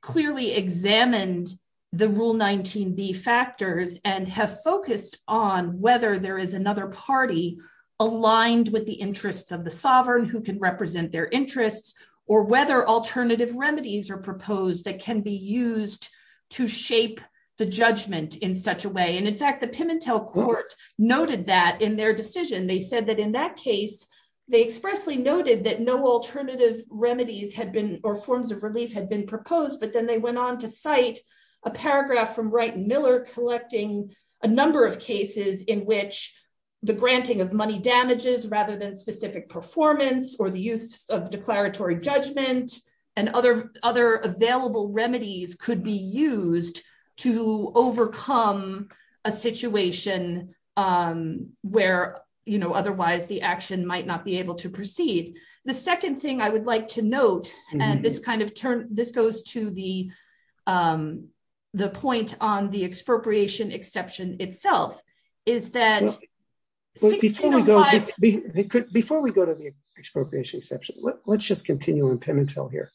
clearly examined the Rule 19b factors and have focused on whether there is another party aligned with the interests of the sovereign who can represent their interests, or whether alternative remedies are proposed that can be used to shape the judgment in such a way. And in fact, the Pimentel Court noted that in their decision, they said that in that case, they expressly noted that no alternative remedies had been, or forms of relief had been proposed. But then they went on to cite a paragraph from Wright and Miller collecting a number of cases in which the granting of money damages rather than specific performance or the use of declaratory judgment and other available remedies could be used to overcome a situation where, you know, otherwise the action might not be able to proceed. The second thing I would like to note, and this kind of turn, this goes to the point on the expropriation exception itself, is that... Before we go to the expropriation exception, let's just continue on Pimentel here,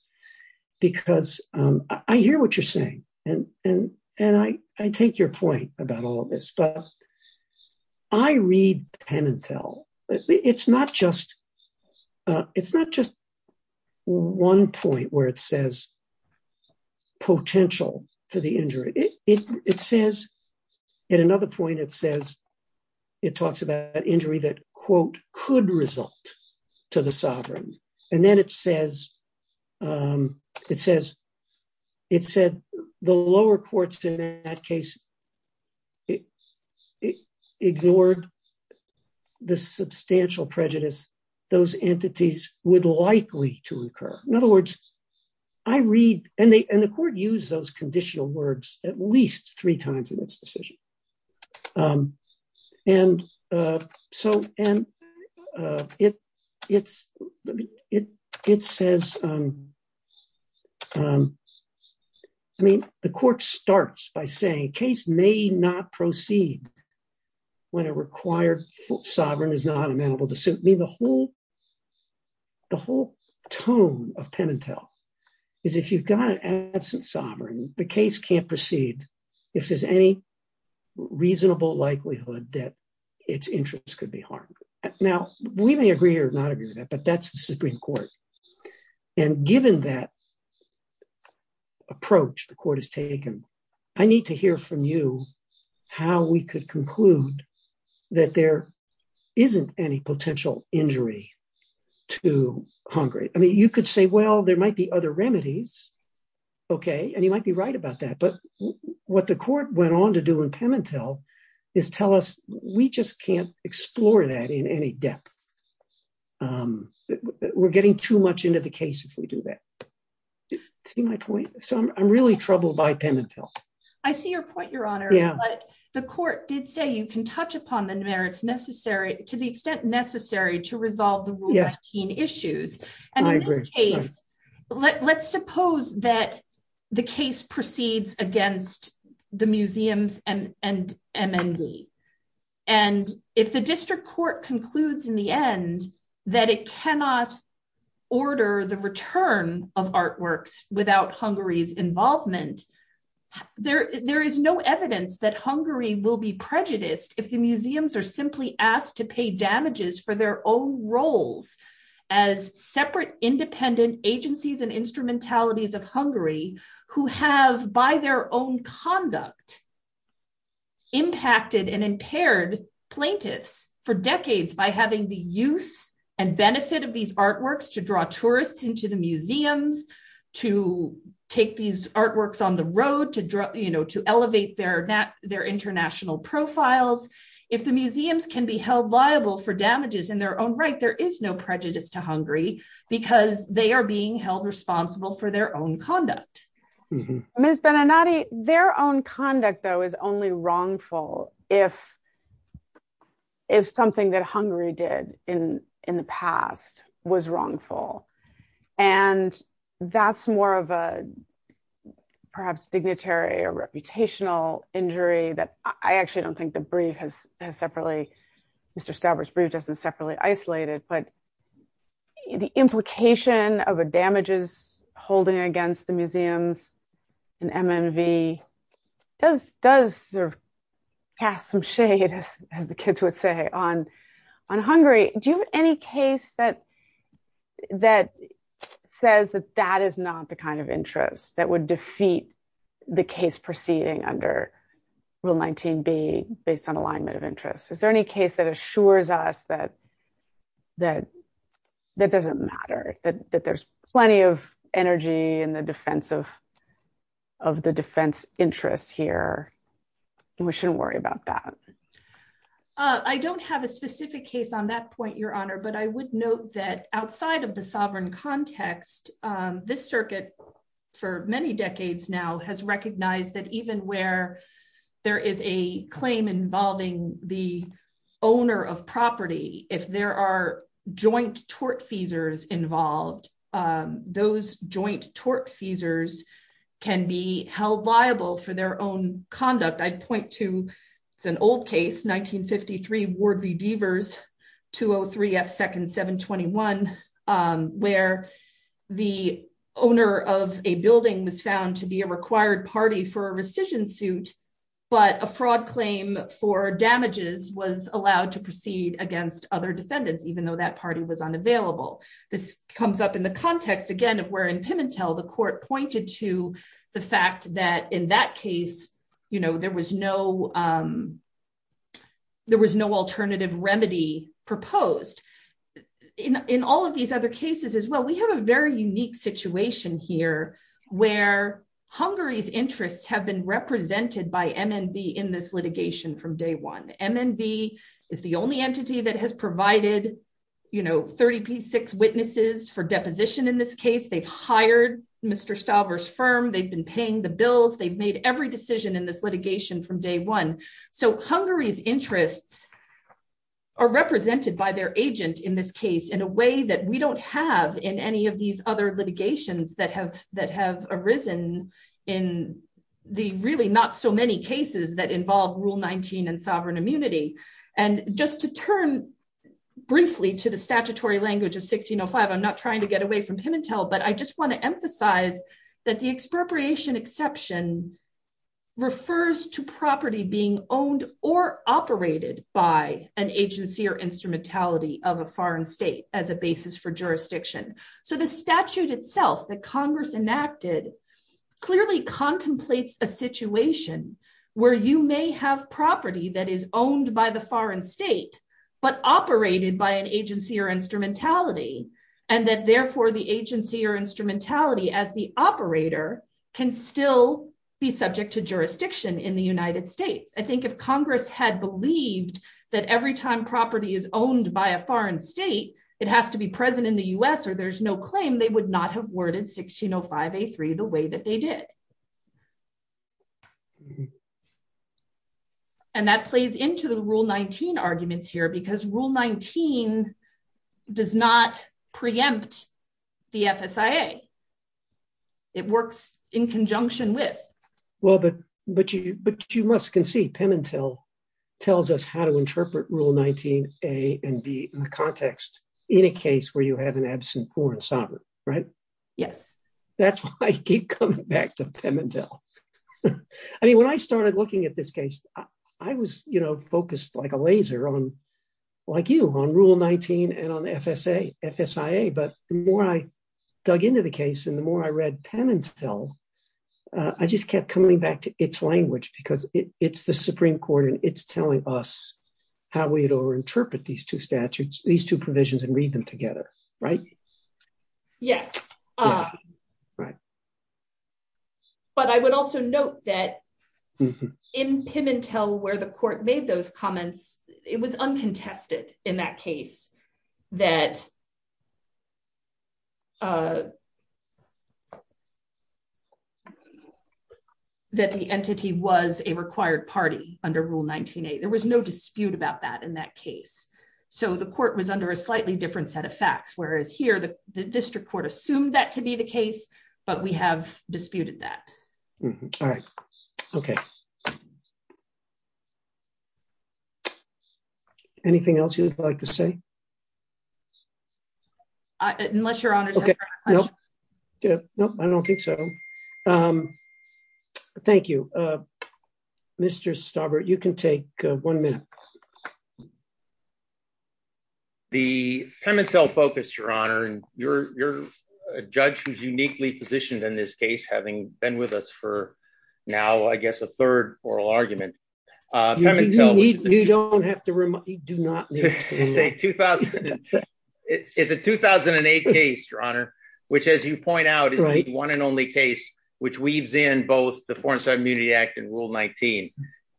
because I hear what you're saying, and I take your point about all of this, but I read Pimentel, it's not just one point where it says potential for the injury. It says, at another point, it says, it talks about injury that, quote, could result to the sovereign, and then it says, it said, the lower courts in that case ignored the substantial prejudice those entities would likely to incur. In other words, I read, and the court used those conditional words at least three times in this decision. And so, and it says, I mean, the court starts by saying, case may not proceed when a required sovereign is not amenable to suit. I mean, the whole tone of Pimentel is, if you've got an absent sovereign, the case can't proceed if there's any reasonable likelihood that its interests could be harmed. Now, we may agree or not agree with that, but that's the Supreme Court. And given that approach the court has taken, I need to hear from you how we could conclude that there isn't any potential injury to Congress. I mean, you could say, well, there might be other remedies, okay, and you might be right about that, but what the court went on to do in Pimentel is tell us, we just can't explore that in any depth. We're getting too much into the case if we do that. See my point? So I'm really troubled by Pimentel. I see your point, Your Honor. Yeah. But the court did say you can touch upon the merits necessary, to the extent necessary, to resolve the Rule 19 issues. I agree. Let's suppose that the case proceeds against the museums and MND, and if the district court concludes in the end that it cannot order the return of artworks without Hungary's involvement, there is no evidence that Hungary will be prejudiced if the museums are simply asked to pay damages for their own roles as separate independent agencies and instrumentalities of Hungary who have, by their own conduct, impacted and impaired plaintiffs for decades by having the use and benefit of these artworks to draw tourists into the museums, to take these artworks on the road, to elevate their international profiles. If the museums can be held liable for damages in their own right, there is no prejudice to Hungary because they are being held responsible for their own conduct. Ms. Beninati, their own conduct, though, is only wrongful if something that Hungary did in the past was wrongful. And that's more of a perhaps dignitary or reputational injury that I actually don't think the brief has separately, Mr. Stauber's brief doesn't separately isolate it. The implication of a damages holding against the museums and MND does pass some shade, as the kids would say, on Hungary. Do you have any case that says that that is not the kind of interest that would defeat the case proceeding under Rule 19B based on alignment of interest? Is there any case that assures us that that doesn't matter, that there's plenty of energy in the defense of the defense interest here, and we shouldn't worry about that? I don't have a specific case on that point, Your Honor, but I would note that outside of the sovereign context, this circuit for many decades now has recognized that even where there is a claim involving the owner of property, if there are joint tort feasors involved, those joint tort feasors can be held liable for their own conduct. I'd point to, it's an old case, 1953 Ward v. Devers, 203 F. Second 721, where the owner of a building was found to be a required party for a rescission suit, but a fraud claim for damages was allowed to proceed against other defendants, even though that party was unavailable. This comes up in the context, again, of where in Pimentel the court pointed to the fact that in that case, you know, there was no alternative remedy proposed. In all of these other cases as well, we have a very unique situation here where Hungary's interests have been represented by MNB in this litigation from day one. MNB is the only entity that has provided, you know, 30p6 witnesses for deposition in this case. They've hired Mr. Stauber's firm, they've been paying the bills, they've made every decision in this litigation from day one. So Hungary's interests are represented by their agent in this case in a way that we don't have in any of these other litigations that have arisen in the really not so many cases that involve Rule 19 and sovereign immunity. And just to turn briefly to the statutory language of 1605, I'm not trying to get away from Pimentel, but I just want to emphasize that the expropriation exception refers to property being owned or operated by an agency or instrumentality of a foreign state as a basis for jurisdiction. So the statute itself that Congress enacted clearly contemplates a situation where you may have property that is owned by the foreign state, but operated by an agency or instrumentality, and that therefore the agency or instrumentality as the operator can still be subject to jurisdiction in the United States. I think if Congress had believed that every time property is owned by a foreign state, it has to be present in the U.S. or there's no claim, they would not have worded 1605A3 the way that they did. And that plays into the Rule 19 arguments here because Rule 19 does not preempt the FSIA. It works in conjunction with. Well, but you must concede Pimentel tells us how to interpret Rule 19A and B in the context in a case where you have an absent foreign sovereign, right? Yes. That's why I keep coming back to Pimentel. I mean, when I started looking at this case, I was, you know, focused like a laser on, like you, on Rule 19 and on FSIA, but the more I dug into the case and the more I read Pimentel, I just kept coming back to its language because it's the Supreme Court and it's telling us how we interpret these two statutes, these two provisions and read them together. Right? Yes. Right. But I would also note that in Pimentel where the court made those comments, it was uncontested in that case that that the entity was a required party under Rule 19A. There was no dispute about that in that case. So the court was under a slightly different set of facts, whereas here the district court assumed that to be the case, but we have disputed that. All right. Okay. Anything else you'd like to say? Unless Your Honor. Nope. Nope, I don't think so. Thank you, Mr. Stauber. You can take one minute. The Pimentel focus, Your Honor, and you're a judge who's uniquely positioned in this case, having been with us for now, I guess, a third oral argument. You don't have to remind me. Do not. It's a 2008 case, Your Honor, which, as you point out, is the one and only case which weaves in both the Foreign Sovereign Immunity Act and Rule 19.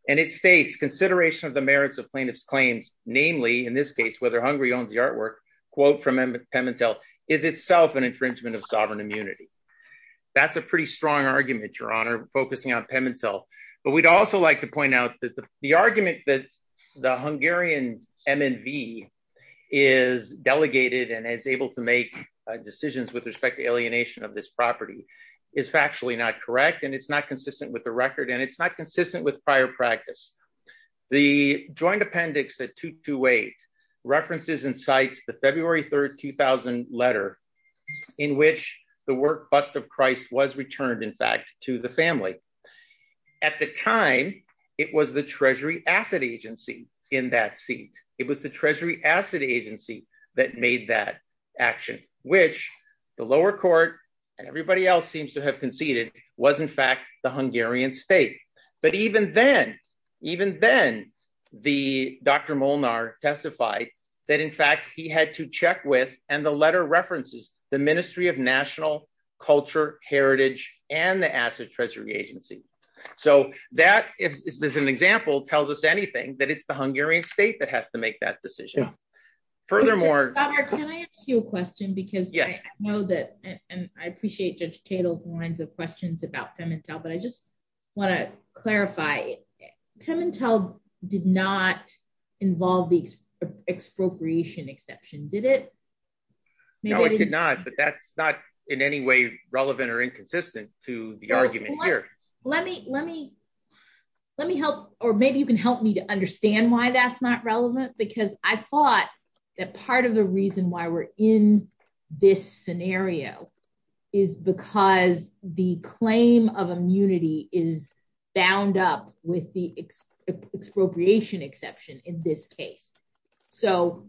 And it states, consideration of the merits of plaintiff's claims, namely, in this case, whether Hungary owns the artwork, quote from Pimentel, is itself an infringement of sovereign immunity. That's a pretty strong argument, Your Honor, focusing on Pimentel. But we'd also like to point out that the argument that the Hungarian MNV is delegated and is able to make decisions with respect to alienation of this property is factually not correct, and it's not consistent with the record, and it's not consistent with prior practice. The joint appendix at 228 references and cites the February 3, 2000 letter in which the work, Bust of Christ, was returned, in fact, to the family. At the time, it was the Treasury Asset Agency in that seat. It was the Treasury Asset Agency that made that action, which the lower court and everybody else seems to have conceded was, in fact, the Hungarian state. But even then, even then, Dr. Molnar testified that, in fact, he had to check with, and the letter references, the Ministry of National Culture, Heritage, and the Asset Treasury Agency. So that, as an example, tells us anything that it's the Hungarian state that has to make that decision. Furthermore... Robert, can I ask you a question, because I know that, and I appreciate Judge Tatel's lines of questions about Pemintel, but I just want to clarify, Pemintel did not involve the expropriation exception, did it? No, it did not, but that's not in any way relevant or inconsistent to the argument here. Let me help, or maybe you can help me to understand why that's not relevant, because I thought that part of the reason why we're in this scenario is because the claim of immunity is bound up with the expropriation exception in this case. So,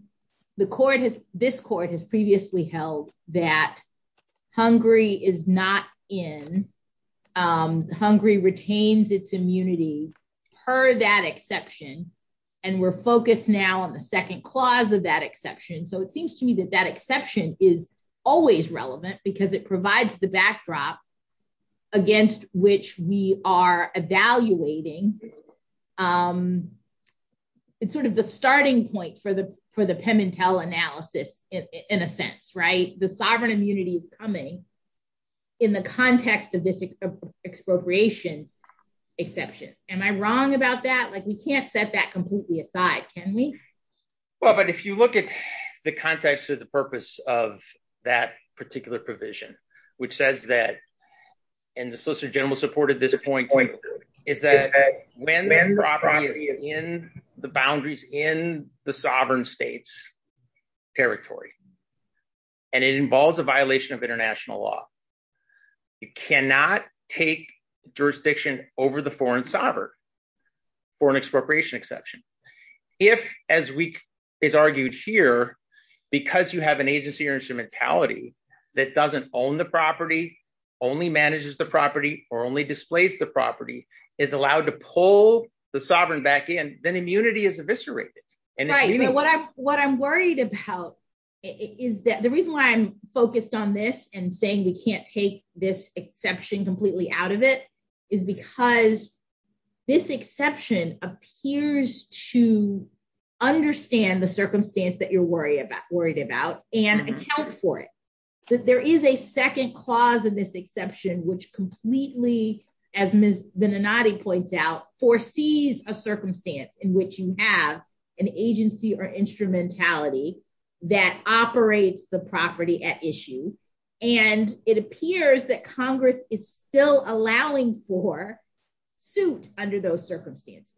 this court has previously held that Hungary is not in, Hungary retains its immunity per that exception, and we're focused now on the second clause of that exception, so it seems to me that that exception is always relevant because it provides the backdrop against which we are evaluating. It's sort of the starting point for the Pemintel analysis, in a sense, right? The sovereign immunity is coming in the context of this expropriation exception. Am I wrong about that? Like, we can't set that completely aside, can we? Well, but if you look at the context of the purpose of that particular provision, which says that, and the Solicitor General supported this point, is that when the property is in the boundaries in the sovereign states' territory, and it involves a violation of international law, you cannot take jurisdiction over the foreign sovereign for an expropriation exception. If, as is argued here, because you have an agency or instrumentality that doesn't own the property, only manages the property, or only displays the property, is allowed to pull the sovereign back in, then immunity is eviscerated. Right, but what I'm worried about is that the reason why I'm focused on this and saying we can't take this exception completely out of it is because this exception appears to understand the circumstance that you're worried about and account for it. There is a second clause in this exception, which completely, as Ms. Venenati points out, foresees a circumstance in which you have an agency or instrumentality that operates the property at issue, and it appears that Congress is still allowing for suit under those circumstances.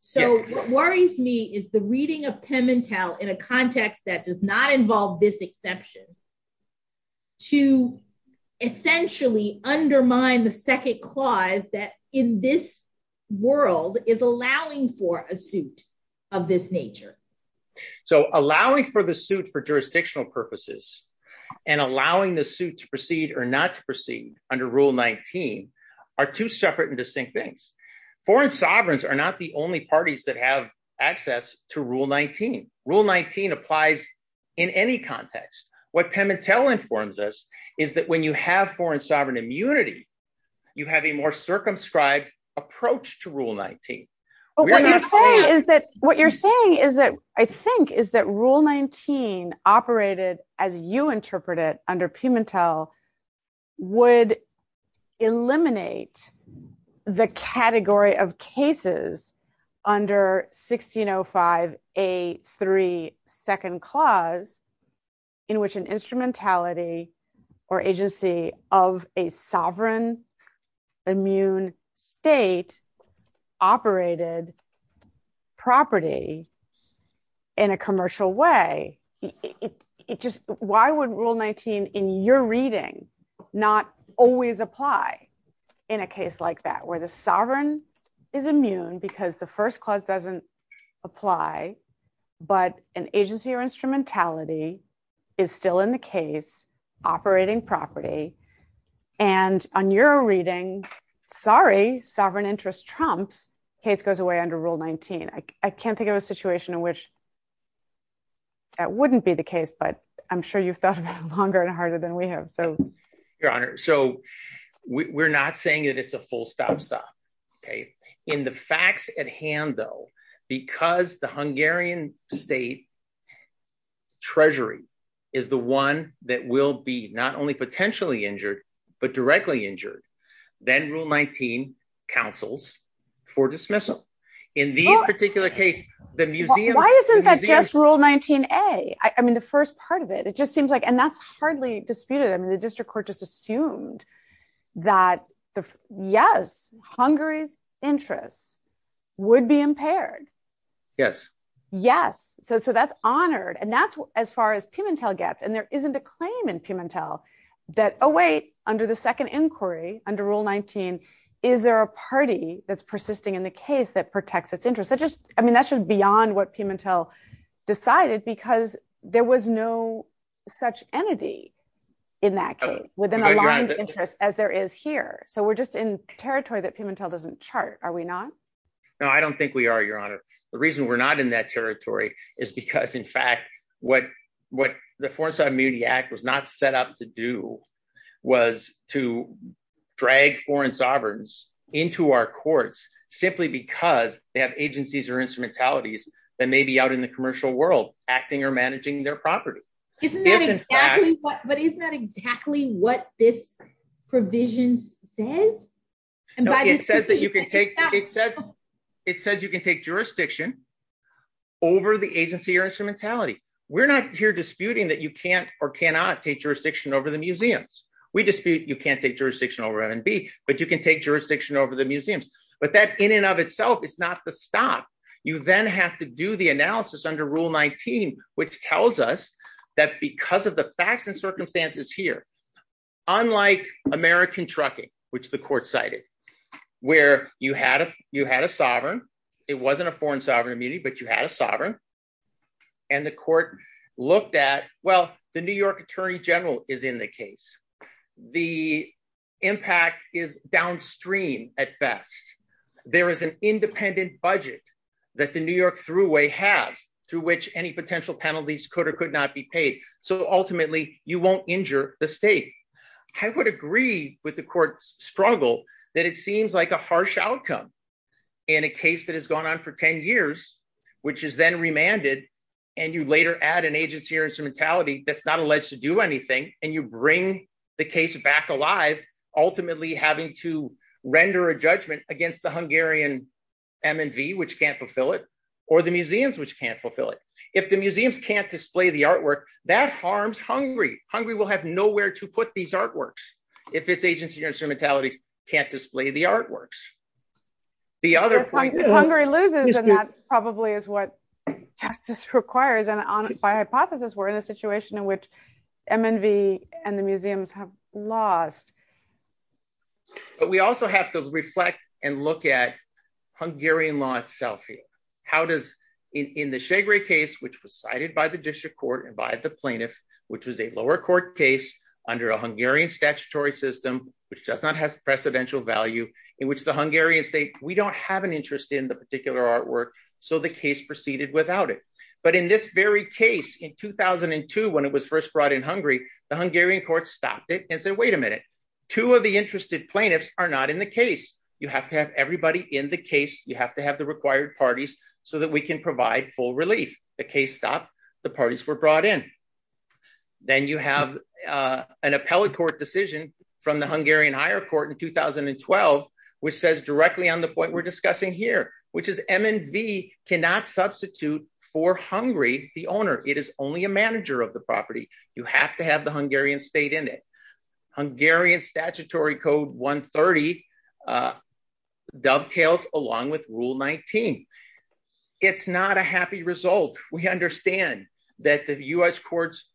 So what worries me is the reading of Pimentel in a context that does not involve this exception to essentially undermine the second clause that in this world is allowing for a suit of this nature. So allowing for the suit for jurisdictional purposes and allowing the suit to proceed or not to proceed under Rule 19 are two separate and distinct things. Foreign sovereigns are not the only parties that have access to Rule 19. Rule 19 applies in any context. What Pimentel informs us is that when you have foreign sovereign immunity, you have a more circumscribed approach to Rule 19. But what you're saying is that, I think, is that Rule 19 operated as you interpret it under Pimentel would eliminate the category of cases under 1605A3 second clause in which an instrumentality or agency of a sovereign immune state operated property in a commercial way. Why would Rule 19 in your reading not always apply in a case like that where the sovereign is immune because the first clause doesn't apply, but an agency or instrumentality is still in the case operating property. And on your reading, sorry, sovereign interest Trump's case goes away under Rule 19. I can't think of a situation in which that wouldn't be the case, but I'm sure you've thought about it longer and harder than we have. Your Honor, so we're not saying that it's a full stop-stop. In the facts at hand, though, because the Hungarian state treasury is the one that will be not only potentially injured, but directly injured, then Rule 19 counsels for dismissal. Why isn't that just Rule 19A? I mean, the first part of it, it just seems like, and that's hardly disputed. I mean, the district court just assumed that yes, Hungary's interests would be impaired. Yes. So that's honored. And that's as far as Pimentel gets. And there isn't a claim in Pimentel that, oh, wait, under the second inquiry, under Rule 19, is there a party that's persisting in the case that protects its interests? I mean, that's just beyond what Pimentel decided because there was no such entity in that case with an aligned interest as there is here. So we're just in territory that Pimentel doesn't chart, are we not? No, I don't think we are, Your Honor. The reason we're not in that territory is because, in fact, what the Foreign Sovereign Immunity Act was not set up to do was to drag foreign sovereigns into our courts simply because they have agencies or instrumentalities that may be out in the commercial world acting or managing their property. But isn't that exactly what this provision says? It says you can take jurisdiction over the agency or instrumentality. We're not here disputing that you can't or cannot take jurisdiction over the museums. We dispute you can't take jurisdiction over M&B, but you can take jurisdiction over the museums. But that in and of itself is not the stop. You then have to do the analysis under Rule 19, which tells us that because of the facts and circumstances here, unlike American trucking, which the court cited, where you had a sovereign, it wasn't a foreign sovereign immunity, but you had a sovereign, and the court looked at, well, the New York Attorney General is in the case. The impact is downstream at best. There is an independent budget that the New York Thruway has through which any potential penalties could or could not be paid. So ultimately, you won't injure the state. I would agree with the court's struggle that it seems like a harsh outcome in a case that has gone on for 10 years, which is then remanded, and you later add an agency or instrumentality that's not alleged to do anything, and you bring the case back alive, ultimately having to render a judgment against the Hungarian M&B, which can't fulfill it, or the museums, which can't fulfill it. If the museums can't display the artwork, that harms Hungary. Hungary will have nowhere to put these artworks if its agency or instrumentality can't display the artworks. The other point is that Hungary loses, and that probably is what justice requires, and by hypothesis, we're in a situation in which M&B and the museums have lost. But we also have to reflect and look at Hungarian law itself here. In the Segré case, which was cited by the district court and by the plaintiff, which was a lower court case under a Hungarian statutory system, which does not have precedential value, in which the Hungarian state, we don't have an interest in the particular artwork, so the case proceeded without it. But in this very case, in 2002, when it was first brought in Hungary, the Hungarian court stopped it and said, wait a minute, two of the interested plaintiffs are not in the case. You have to have everybody in the case, you have to have the required parties, so that we can provide full relief. The case stopped, the parties were brought in. Then you have an appellate court decision from the Hungarian higher court in 2012, which says directly on the point we're discussing here, which is M&B cannot substitute for Hungary, the owner, it is only a manager of the property, you have to have the Hungarian state in it. The Hungarian statutory code 130 dovetails along with Rule 19. It's not a happy result. We understand that the US courts,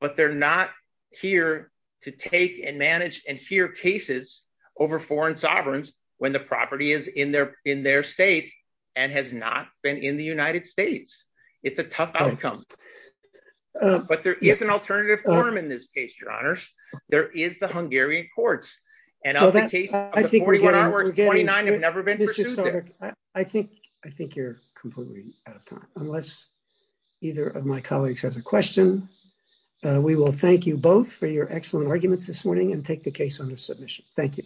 but they're not here to take and manage and hear cases over foreign sovereigns when the property is in their state and has not been in the United States. It's a tough outcome. But there is an alternative form in this case, Your Honors. There is the Hungarian courts. I think you're completely out of time, unless either of my colleagues has a question. We will thank you both for your excellent arguments this morning and take the case under submission. Thank you.